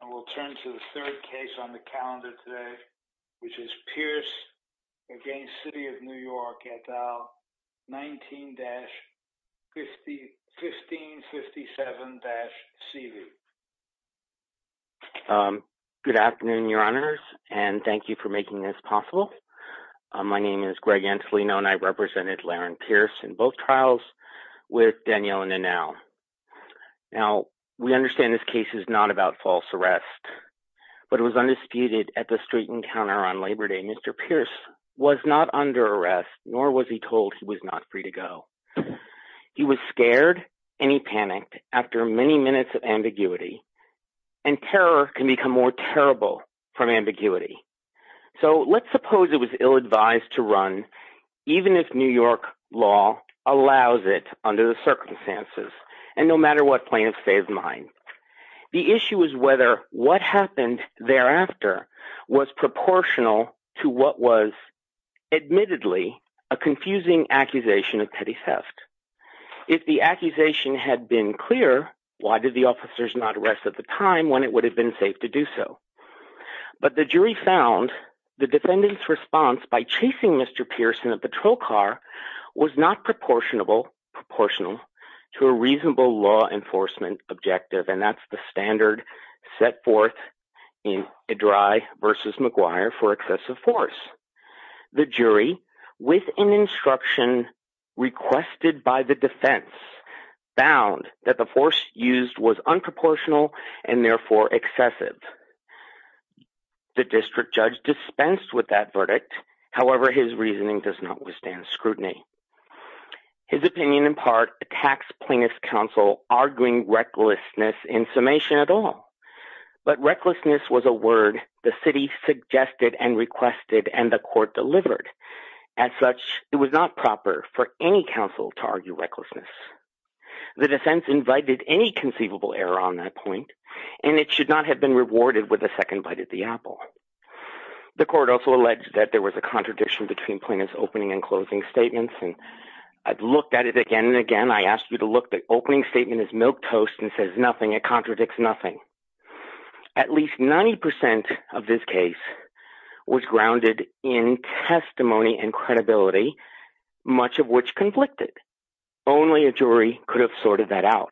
and we'll turn to the third case on the calendar today which is Pierce against City of New York at dial 19-1557-CV. Good afternoon your honors and thank you for making this possible. My name is Greg Antolino and I represented Laryn Pierce in both trials with Danielle and Anal. Now we understand this case is not about false arrest but it was undisputed at the street encounter on Labor Day. Mr. Pierce was not under arrest nor was he told he was not free to go. He was scared and he panicked after many minutes of ambiguity and terror can become more terrible from ambiguity. So let's and no matter what plaintiffs say of mine. The issue is whether what happened thereafter was proportional to what was admittedly a confusing accusation of petty theft. If the accusation had been clear why did the officers not arrest at the time when it would have been safe to do so? But the jury found the defendant's response by chasing Mr. Pierce in a patrol car was not proportional to a reasonable law enforcement objective and that's the standard set forth in Idry versus McGuire for excessive force. The jury with an instruction requested by the defense found that the force used was unproportional and therefore excessive. The district judge dispensed with that verdict however his reasoning does not withstand scrutiny. His opinion in part attacks plaintiff's counsel arguing recklessness in summation at all but recklessness was a word the city suggested and requested and the court delivered. As such it was not proper for any counsel to argue recklessness. The defense invited any conceivable error on that and it should not have been rewarded with a second bite at the apple. The court also alleged that there was a contradiction between plaintiff's opening and closing statements and I've looked at it again and again. I asked you to look the opening statement is milquetoast and says nothing it contradicts nothing. At least 90 percent of this case was grounded in testimony and credibility much of which conflicted. Only a jury could have recredit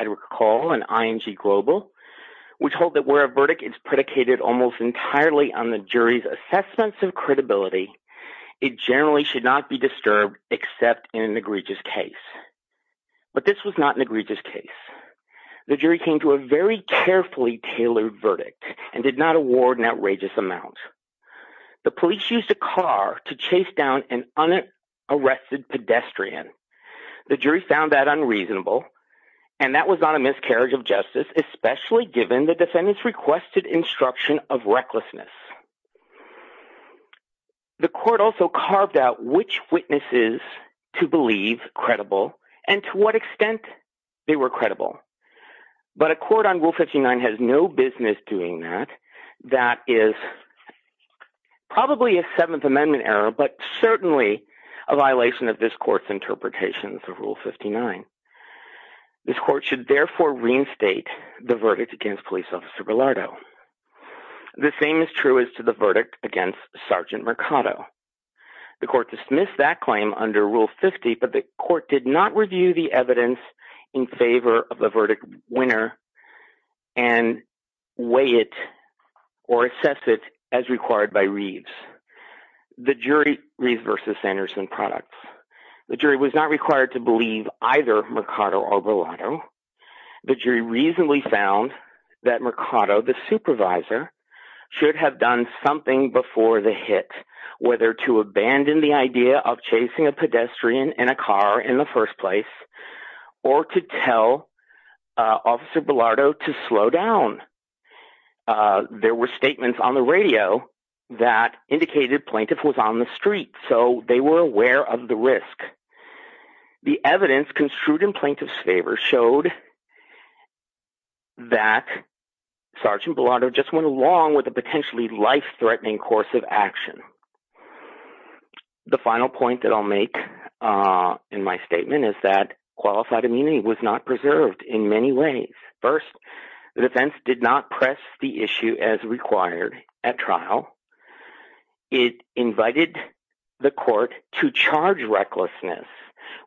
and recall and ING global which hold that where a verdict is predicated almost entirely on the jury's assessments of credibility it generally should not be disturbed except in an egregious case. But this was not an egregious case. The jury came to a very carefully tailored verdict and did not award an outrageous amount. The police used a car to chase down an unarrested pedestrian. The jury found that unreasonable and that was not a miscarriage of justice especially given the defendants requested instruction of recklessness. The court also carved out which witnesses to believe credible and to what extent they were credible. But a court on rule 59 has no business doing that. That is probably a seventh amendment error but certainly a violation of this court's interpretations of rule 59. This court should therefore reinstate the verdict against police officer Bilardo. The same is true as to the verdict against sergeant Mercado. The court dismissed that claim under rule 50 but the court did not review the evidence in favor of the verdict winner and weigh it or assess it as required by Reeves. The jury reversed the Sanderson products. The jury was not required to believe either Mercado or Bilardo. The jury reasonably found that Mercado the supervisor should have done something before the hit whether to abandon the idea of chasing a pedestrian in a that indicated plaintiff was on the street so they were aware of the risk. The evidence construed in plaintiff's favor showed that sergeant Bilardo just went along with a potentially life-threatening course of action. The final point that I'll make in my statement is that qualified immunity was not preserved in many ways. First, the defense did not press the issue as required at trial. It invited the court to charge recklessness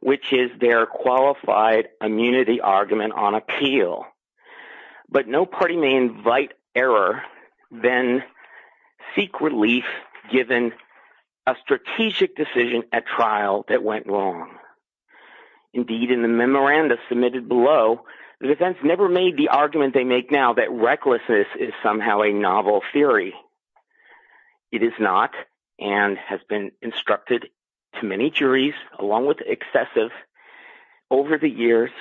which is their qualified immunity argument on appeal but no party may invite error then seek relief given a strategic decision at trial that went wrong. Indeed, in the memoranda submitted below, the defense never made the argument they make now that recklessness is somehow a novel theory. It is not and has been instructed to many juries along with excessive over the years.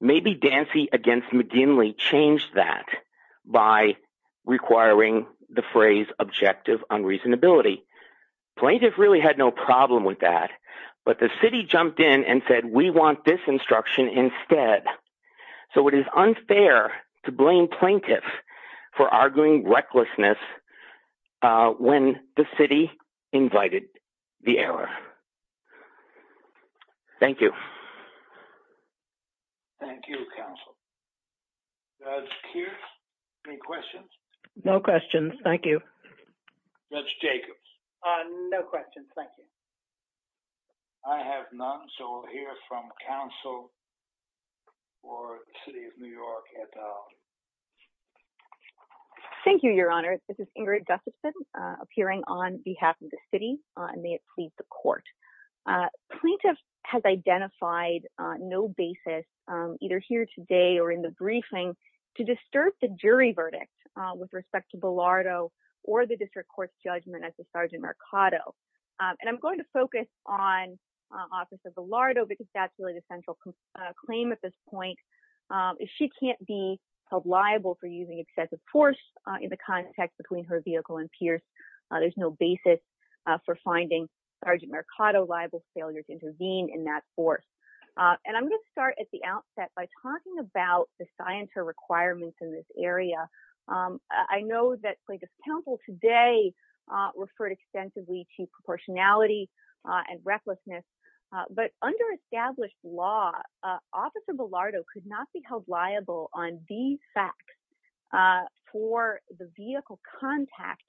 Maybe Dancy against McGinley changed that by requiring the but the city jumped in and said we want this instruction instead so it is unfair to blame plaintiffs for arguing recklessness when the city invited the error. Thank you. Thank you counsel. Judge Keirs, any questions? No questions, thank you. Judge Jacobs? No questions, thank you. I have none so we'll hear from counsel for the city of New York at all. Thank you, your honor. This is Ingrid Gustafson appearing on behalf of the city and may it please the court. Plaintiff has identified on no basis either here today or in the briefing to disturb the jury verdict with respect to Bilardo or the district court's judgment as to Sergeant Mercado. I'm going to focus on Officer Bilardo because that's really the central claim at this point. If she can't be held liable for using excessive force in the context between her vehicle and Pierce, there's no basis for finding Sergeant Mercado liable failure to intervene in that force. I'm going to start at the outset by talking about the scienter requirements in this area. I know that plaintiff's counsel today referred extensively to proportionality and recklessness but under established law, Officer Bilardo could not be held liable on these facts for the vehicle contact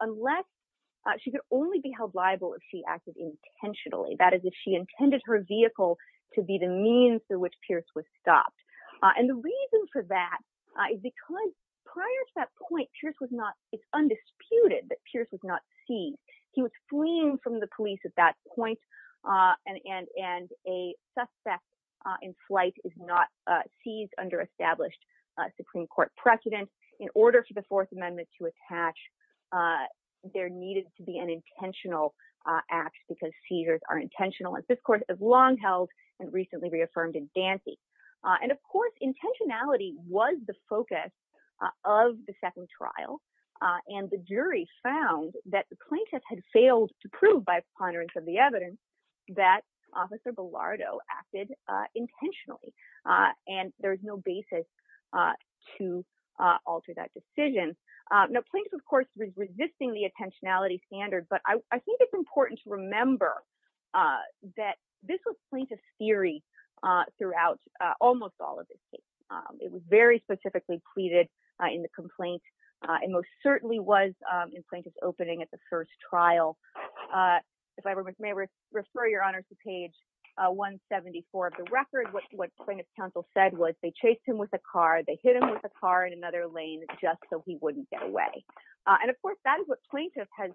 unless she could only be held liable if she acted intentionally, that is if she intended her vehicle to be the means through which Pierce was stopped. The reason for that is because prior to that point, it's undisputed that Pierce was not seized. He was fleeing from the police at that point and a suspect in flight is not seized under established Supreme Court precedent. In order for the Fourth Amendment to attach, there needed to be an intentional act because seizures are intentional as this court has long held and recently reaffirmed in Dancy. Of course, intentionality was the focus of the second trial and the jury found that the plaintiff had failed to prove by ponderance of the evidence that Officer Bilardo acted intentionally. There's no basis to alter that decision. Plaintiff, of course, was resisting the intentionality standard but I think it's theory throughout almost all of this case. It was very specifically pleaded in the complaint and most certainly was in plaintiff's opening at the first trial. If I may refer your honor to page 174 of the record, what plaintiff's counsel said was they chased him with a car, they hit him with a car in another lane just so he wouldn't get away. And of course, that is what plaintiff has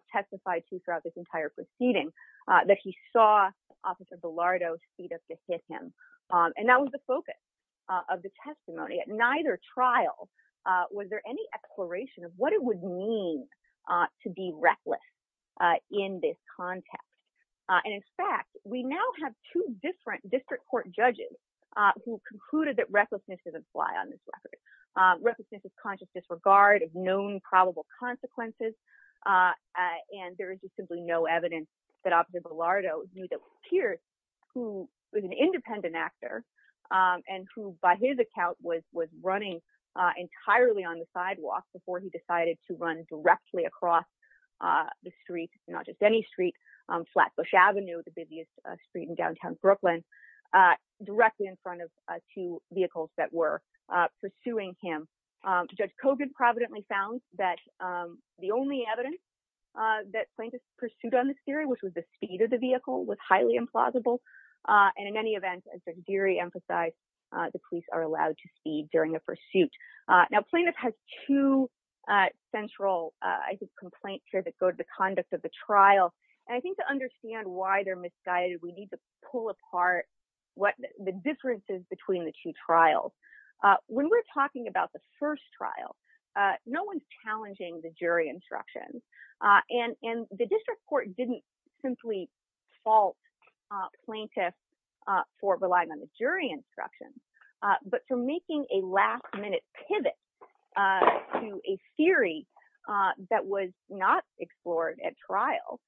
done. And that was the focus of the testimony. At neither trial, was there any exploration of what it would mean to be reckless in this context? And in fact, we now have two different district court judges who concluded that recklessness doesn't fly on this record. Recklessness is conscious disregard of known probable consequences and there is just simply no evidence that Officer was an independent actor and who by his account was running entirely on the sidewalk before he decided to run directly across the street, not just any street, Flatbush Avenue, the busiest street in downtown Brooklyn, directly in front of two vehicles that were pursuing him. Judge Cogut providently found that the only evidence that plaintiff pursued on this theory, which was the speed of the vehicle, was highly implausible. And in any event, as the theory emphasized, the police are allowed to speed during the pursuit. Now, plaintiff has two central, I think, complaints here that go to the conduct of the trial. And I think to understand why they're misguided, we need to pull apart what the difference is between the two trials. When we're talking about the first trial, no one's challenging the jury instructions. And the district court didn't simply fault plaintiff for relying on the jury instructions, but for making a last minute pivot to a theory that was not explored at trial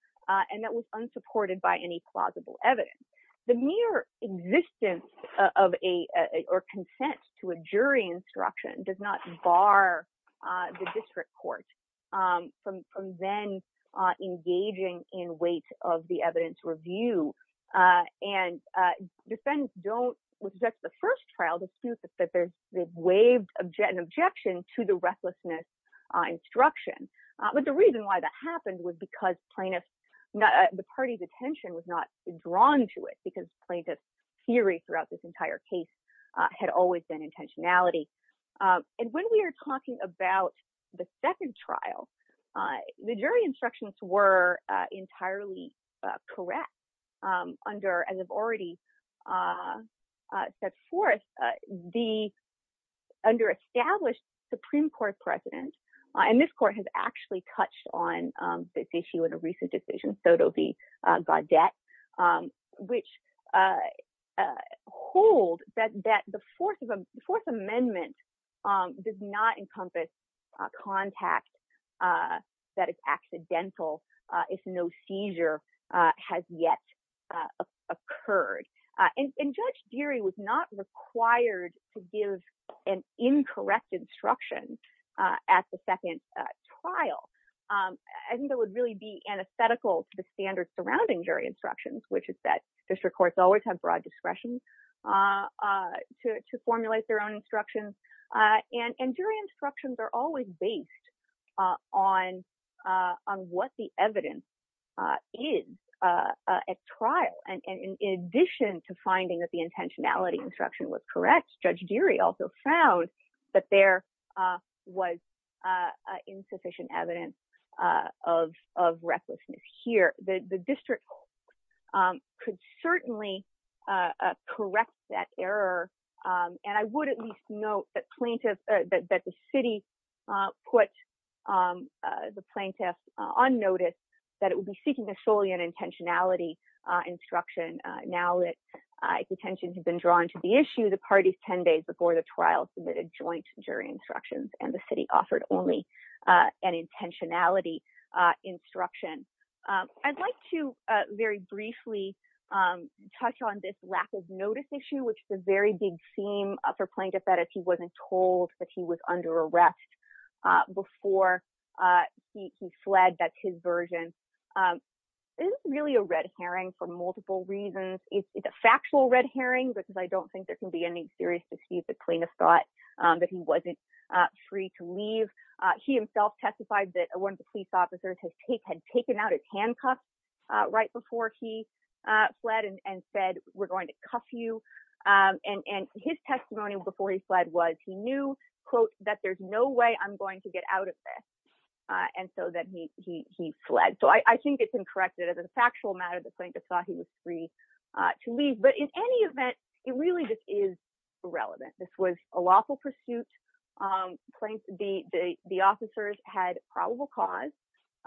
and that was unsupported by any plausible evidence. The mere existence of a or consent to a jury instruction does not bar the district court from then engaging in weight of the evidence review. And defendants don't, with just the first trial, dispute that they've waived an objection to the recklessness instruction. But the reason why that happened was because plaintiff, the party's attention was not drawn to it because plaintiff's theory throughout this entire case had always been intentionality. And when we are talking about the second trial, the jury instructions were entirely correct under, as I've already set forth, the under-established Supreme Court precedent. And this court has actually touched on this issue in a recent decision, Soto v. Gaudet, which hold that the Fourth Amendment does not encompass contact that is accidental if no seizure has yet occurred. And Judge Geary was not required to give an incorrect instruction at the second trial. I think it would really be antithetical to the standards surrounding jury instructions, which is that district courts always have broad discretion to formulate their own instructions. And jury instructions are always based on what the evidence is at trial. And in addition to finding that the intentionality instruction was correct, Judge Geary also found that there was insufficient evidence of recklessness here. The district court could certainly correct that error. And I would at least note that plaintiff, that the city put the plaintiff on notice that it would be seeking an intentionality instruction. Now that the intentions have been drawn to the issue, the parties 10 days before the trial submitted joint jury instructions and the city offered only an intentionality instruction. I'd like to very briefly touch on this lack of notice issue, which is a very big theme for plaintiff that if he wasn't told that he was under arrest before he fled, that's his version. This is really a red herring for multiple reasons. It's a factual red herring, because I don't think there can be any serious deceit that plaintiff thought that he wasn't free to leave. He himself testified that one of the police officers had taken out his handcuffs right before he fled and said, we're going to cuff you. And his testimony before he fled was he knew, quote, that there's no way I'm going to get out of this. And so that he fled. So I think it's incorrect that as a factual matter, the plaintiff thought he was free to leave. But in any event, it really just is irrelevant. This was a lawful pursuit. The officers had probable cause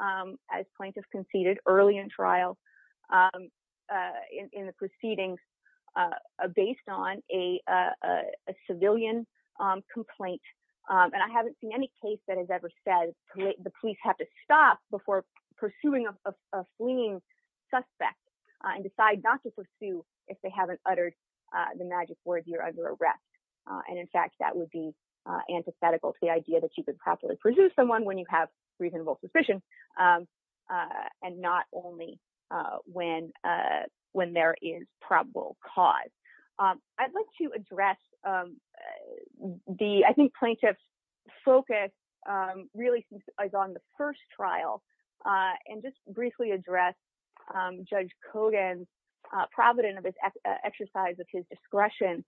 as plaintiff conceded early in trial in the proceedings based on a civilian complaint. And I haven't seen any case that has ever said the police have to stop before pursuing a fleeing suspect and decide not to pursue if they haven't uttered the magic words you're under arrest. And in fact, that would be antithetical to the idea that you could probably pursue someone when you have reasonable suspicion and not only when there is probable cause. I'd like to address the I think plaintiff's focus really is on the first trial and just briefly address Judge Kogan's provident of his exercise of his discretion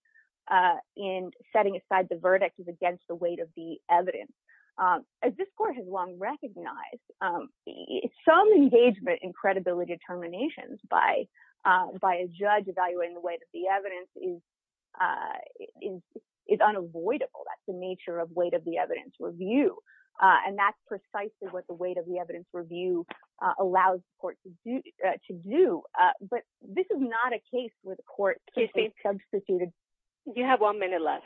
in setting aside the weight of the evidence. As this court has long recognized, some engagement in credibility determinations by a judge evaluating the weight of the evidence is unavoidable. That's the nature of weight of the evidence review. And that's precisely what the weight of the evidence review allows the court to do. But this is not a case where the court can be substituted. You have one minute left.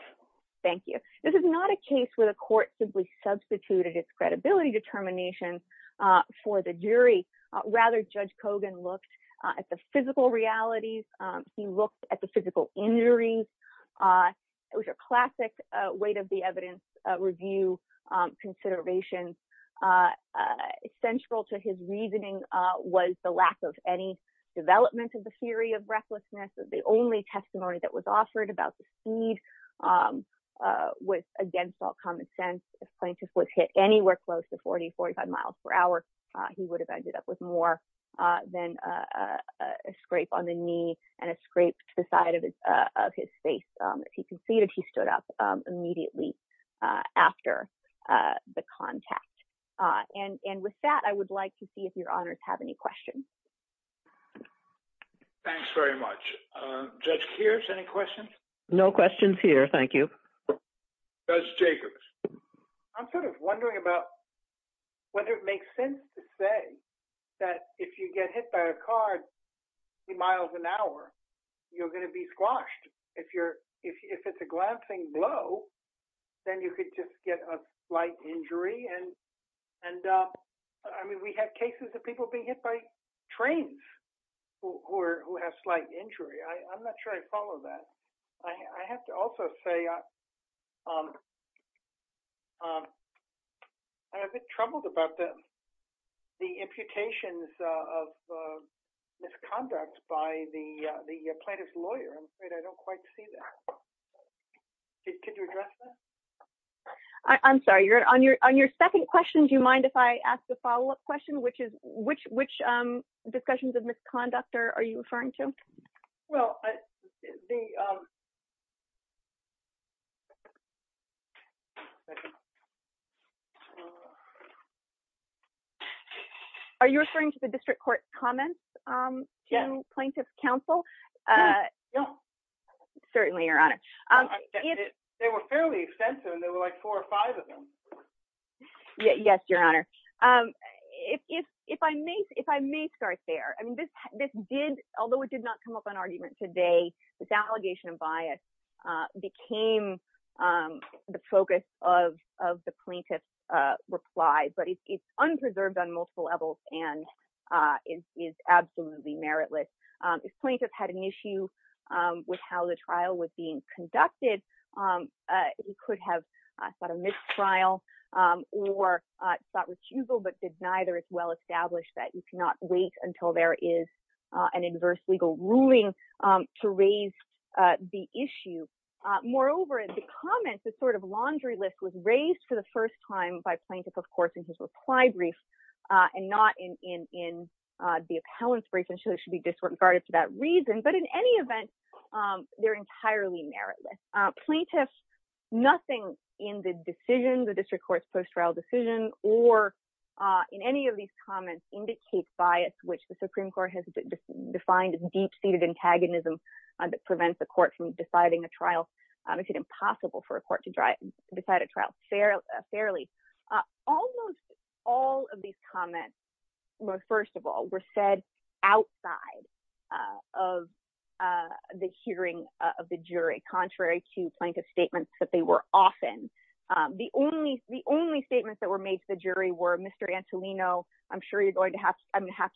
Thank you. This is not a case where the court simply substituted its credibility determination for the jury. Rather, Judge Kogan looked at the physical realities. He looked at the physical injuries. It was a classic weight of the evidence review considerations. Essential to his reasoning was the lack of any development of the theory of testimony that was offered about the speed was against all common sense. If plaintiff was hit anywhere close to 40, 45 miles per hour, he would have ended up with more than a scrape on the knee and a scrape to the side of his face. If he conceded, he stood up immediately after the contact. And with that, I would like to see if your honors have any questions. Thanks very much. Judge Kears, any questions? No questions here. Thank you. Judge Jacobs. I'm sort of wondering about whether it makes sense to say that if you get hit by a car three miles an hour, you're going to be squashed. If it's a glancing blow, then you could just get a slight injury. And I mean, we have cases of people being hit by trains who have slight injury. I'm not sure I follow that. I have to also say I'm a bit troubled about the imputations of misconduct by the plaintiff's lawyer. I'm afraid I don't quite see that. Could you address that? I'm sorry. On your second question, do you mind if I ask a follow-up question, which is which discussions of misconduct are you referring to? Well, are you referring to the district court comments to plaintiff's counsel? No. Certainly, your honor. They were fairly extensive and there were like four or five of them. Yes, your honor. If I may start there. I mean, although it did not come up on argument today, this allegation of bias became the focus of the plaintiff's reply, but it's an issue with how the trial was being conducted. He could have sought a missed trial or sought recusal, but did neither as well established that you cannot wait until there is an adverse legal ruling to raise the issue. Moreover, in the comments, this sort of laundry list was raised for the first time by plaintiff, of course, in his reply brief and not in the appellant's brief disregard for that reason. But in any event, they're entirely meritless. Plaintiffs, nothing in the decision, the district court's post-trial decision, or in any of these comments indicates bias, which the Supreme Court has defined as deep-seated antagonism that prevents the court from deciding a trial. It's impossible for a court to decide a trial fairly. Almost all of these comments, first of all, were said outside of the hearing of the jury, contrary to plaintiff's statements that they were often. The only statements that were made to the jury were, Mr. Antolino, I'm sure I'm going to have to ask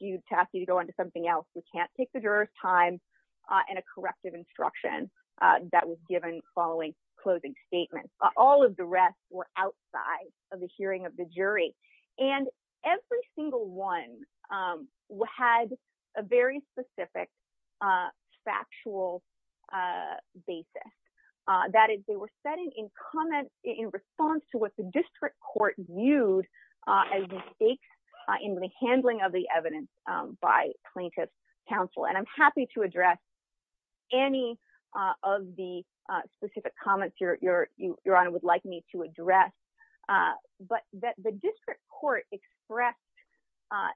you to go on to something else. We can't take the juror's time, and a corrective instruction that was given following closing statements. All of the rest were outside of the hearing of the jury. And every single one had a very specific factual basis. That is, they were said in response to what the district court viewed as mistakes in the handling of the evidence by plaintiff's counsel. And I'm happy to address any of the specific comments Your Honor would like me to address, but that the district court expressed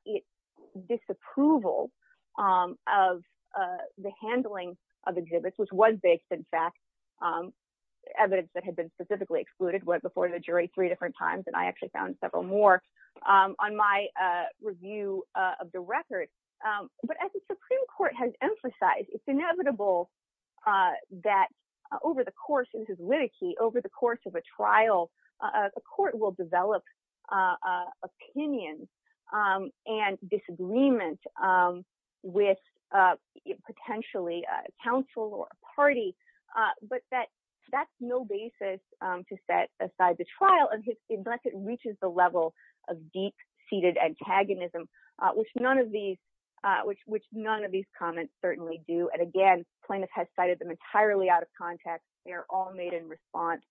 its disapproval of the handling of exhibits, which was based, in fact, evidence that had been specifically excluded before the jury three different times, and I actually found several more on my review of the record. But as the Supreme Court has emphasized, it's inevitable that over the course of his litigate, over the course of a trial, the court will develop opinions and disagreement with potentially a counsel or a party, but that's no basis to set aside the trial unless it reaches the level of deep-seated antagonism, which none of these comments certainly do. And again, plaintiff has cited them entirely out of context. They are all made in response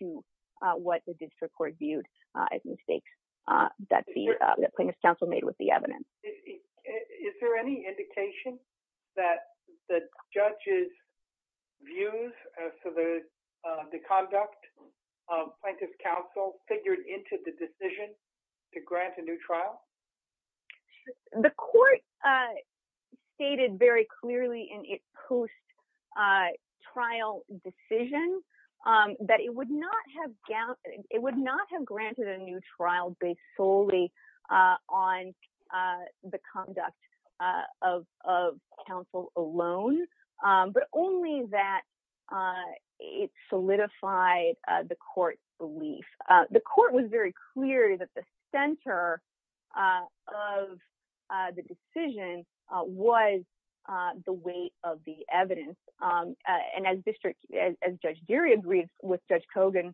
to what the district court viewed as mistakes that the plaintiff's counsel made with the evidence. Is there any indication that the judge's views as to the conduct of plaintiff's counsel figured into the decision to grant a new trial? The court stated very clearly in its post-trial decision that it would not have granted a new trial based solely on the conduct of counsel alone, but only that it solidified the court's belief. The court was very clear that the center of the decision was the weight of the evidence. And as Judge Deary agreed with Judge Kogan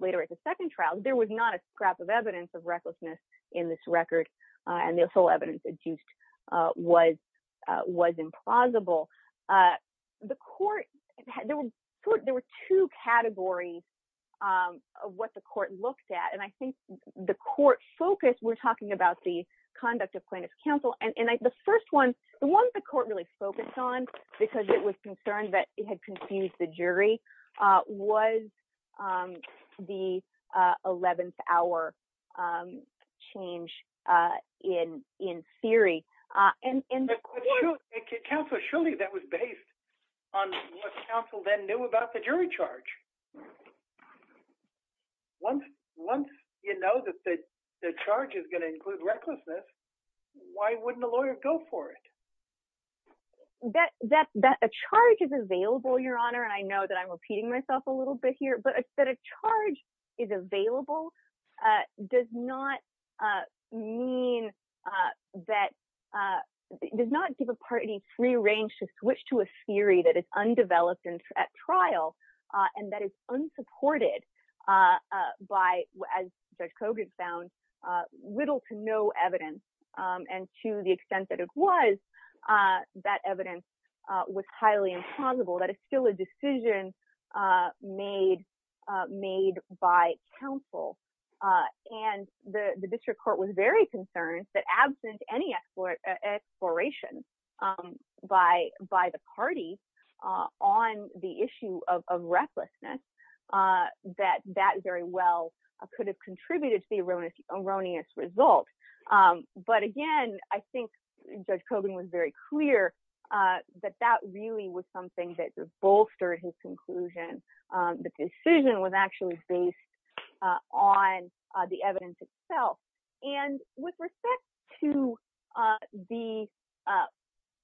later at the second trial, there was not a scrap of evidence of recklessness in this record, and the whole evidence adduced was implausible. There were two categories of what the court looked at, and I think the court focused, we're talking about the conduct of plaintiff's counsel, and the first one, the one the court really focused on, because it was concerned that it had confused the jury, was the 11th hour change in theory. Counsel, surely that was based on what counsel then knew about the jury charge. Once you know that the charge is going to include recklessness, why wouldn't a lawyer go for it? That a charge is available, Your Honor, and I know that I'm repeating myself a little bit here, but that a charge is available does not mean that, does not give a party free range to switch a theory that is undeveloped at trial and that is unsupported by, as Judge Kogan found, little to no evidence. And to the extent that it was, that evidence was highly implausible, that it's still a decision made by counsel. And the district court was very concerned that absent any exploration by the parties on the issue of recklessness, that that very well could have contributed to the erroneous result. But again, I think Judge Kogan was very clear that that really was something that just bolstered his conclusion. The decision was actually based on the evidence itself. And with respect to the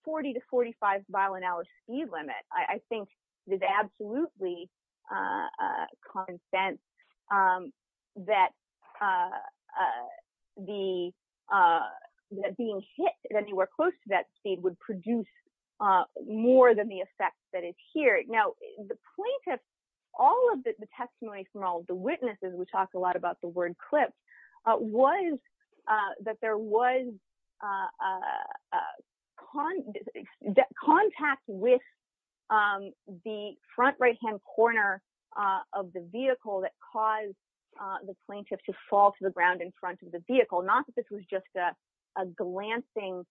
40 to 45 violent hour speed limit, I think there's absolutely common sense that being hit at anywhere close to that speed would produce more than the effect that is here. Now, the plaintiff, all of the testimony from all of the witnesses, we talked a lot about the word clip, was that there was contact with the front right-hand corner of the vehicle that caused the plaintiff to fall to the ground in front of the vehicle, not that this was just a glancing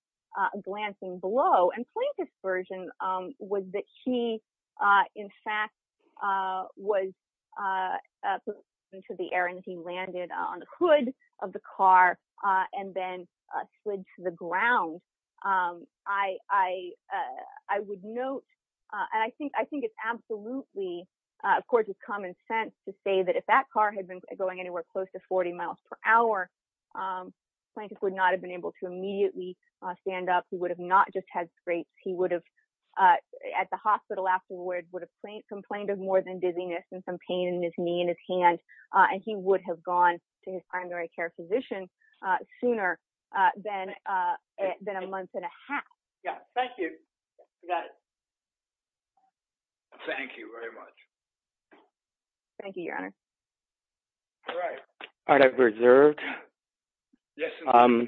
blow. And plaintiff's version was that he, in fact, was put into the air and he landed on the hood of the car and then slid to the ground. I would note, and I think it's absolutely, of course, it's common sense to say that if that car had been going anywhere close to 40 miles per hour, plaintiff would not have been able to immediately stand up. He would have not just had scrapes. He would have, at the hospital afterward, complained of more than dizziness and some pain in his knee and his hand, and he would have gone to his primary care physician sooner than a month and a half. Yeah. Thank you. Thank you very much. Thank you, Your Honor. All right. All right. I've reserved. Yes, Your Honor.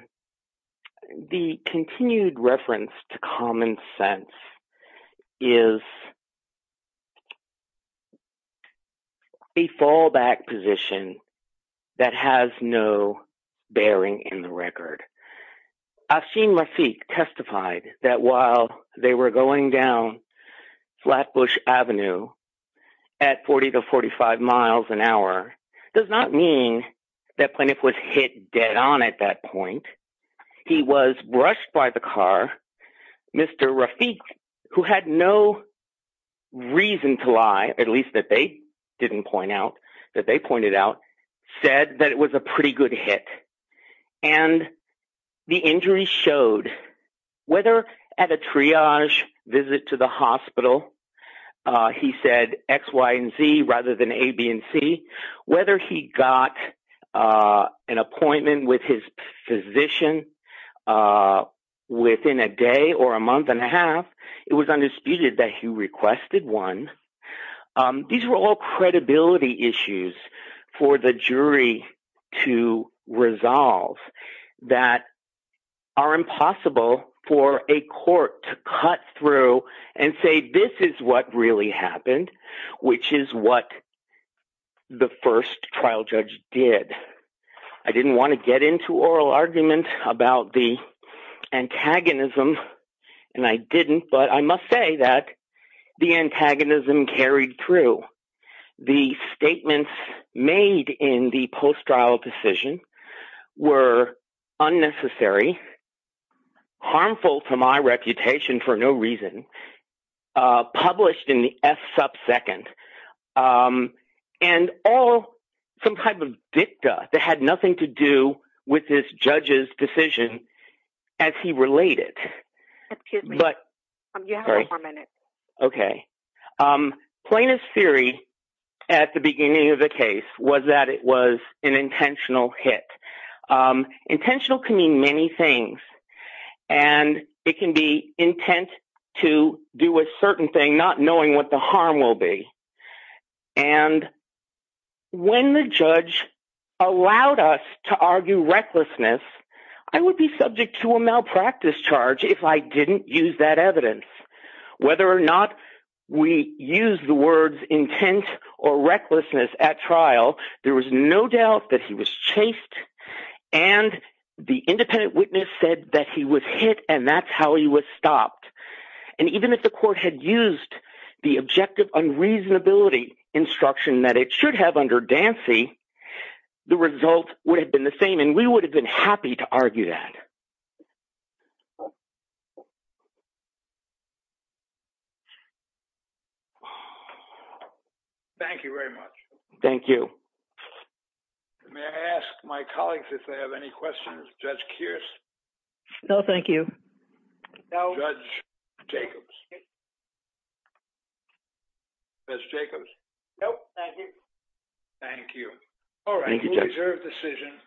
The continued reference to common sense is a fallback position that has no bearing in the record. Afshin Rafiq testified that while they were going down Flatbush Avenue at 40 to 45 miles an hour does not mean that plaintiff was hit dead on at that point. He was brushed by the car. Mr. Rafiq, who had no reason to lie, at least that they didn't point out, that they pointed out, said that it was a pretty good hit. And the injuries showed, whether at a triage visit to the hospital, he said X, Y, and Z rather than A, B, and C, whether he got an appointment with his physician within a day or a month and a half, it was undisputed that he requested one. These were all credibility issues for the jury to resolve that are impossible for a court to cut through and say this is what really happened, which is what the first trial judge did. I didn't want to get into oral argument about the antagonism, and I didn't, but I must say that the antagonism carried through. The statements made in the post-trial decision were unnecessary, harmful to my reputation for no reason, published in the F-subsecond, and all some type of dicta that had nothing to do with this judge's decision as he related. Excuse me. You have one more minute. Okay. Plainest theory at the beginning of the case was that it was an intentional hit. Intentional can mean many things, and it can be intent to do a certain thing not knowing what the harm will be. And when the judge allowed us to argue recklessness, I would be subject to a whether or not we use the words intent or recklessness at trial, there was no doubt that he was chased, and the independent witness said that he was hit and that's how he was stopped. And even if the court had used the objective unreasonability instruction that it should have under Dancy, the result would have been the same, and we would have been happy to argue that. Thank you very much. Thank you. May I ask my colleagues if they have any questions? Judge Kearse? No, thank you. Judge Jacobs? Judge Jacobs? No, thank you. Thank you. All right. Thank you, Judge. We reserve decision.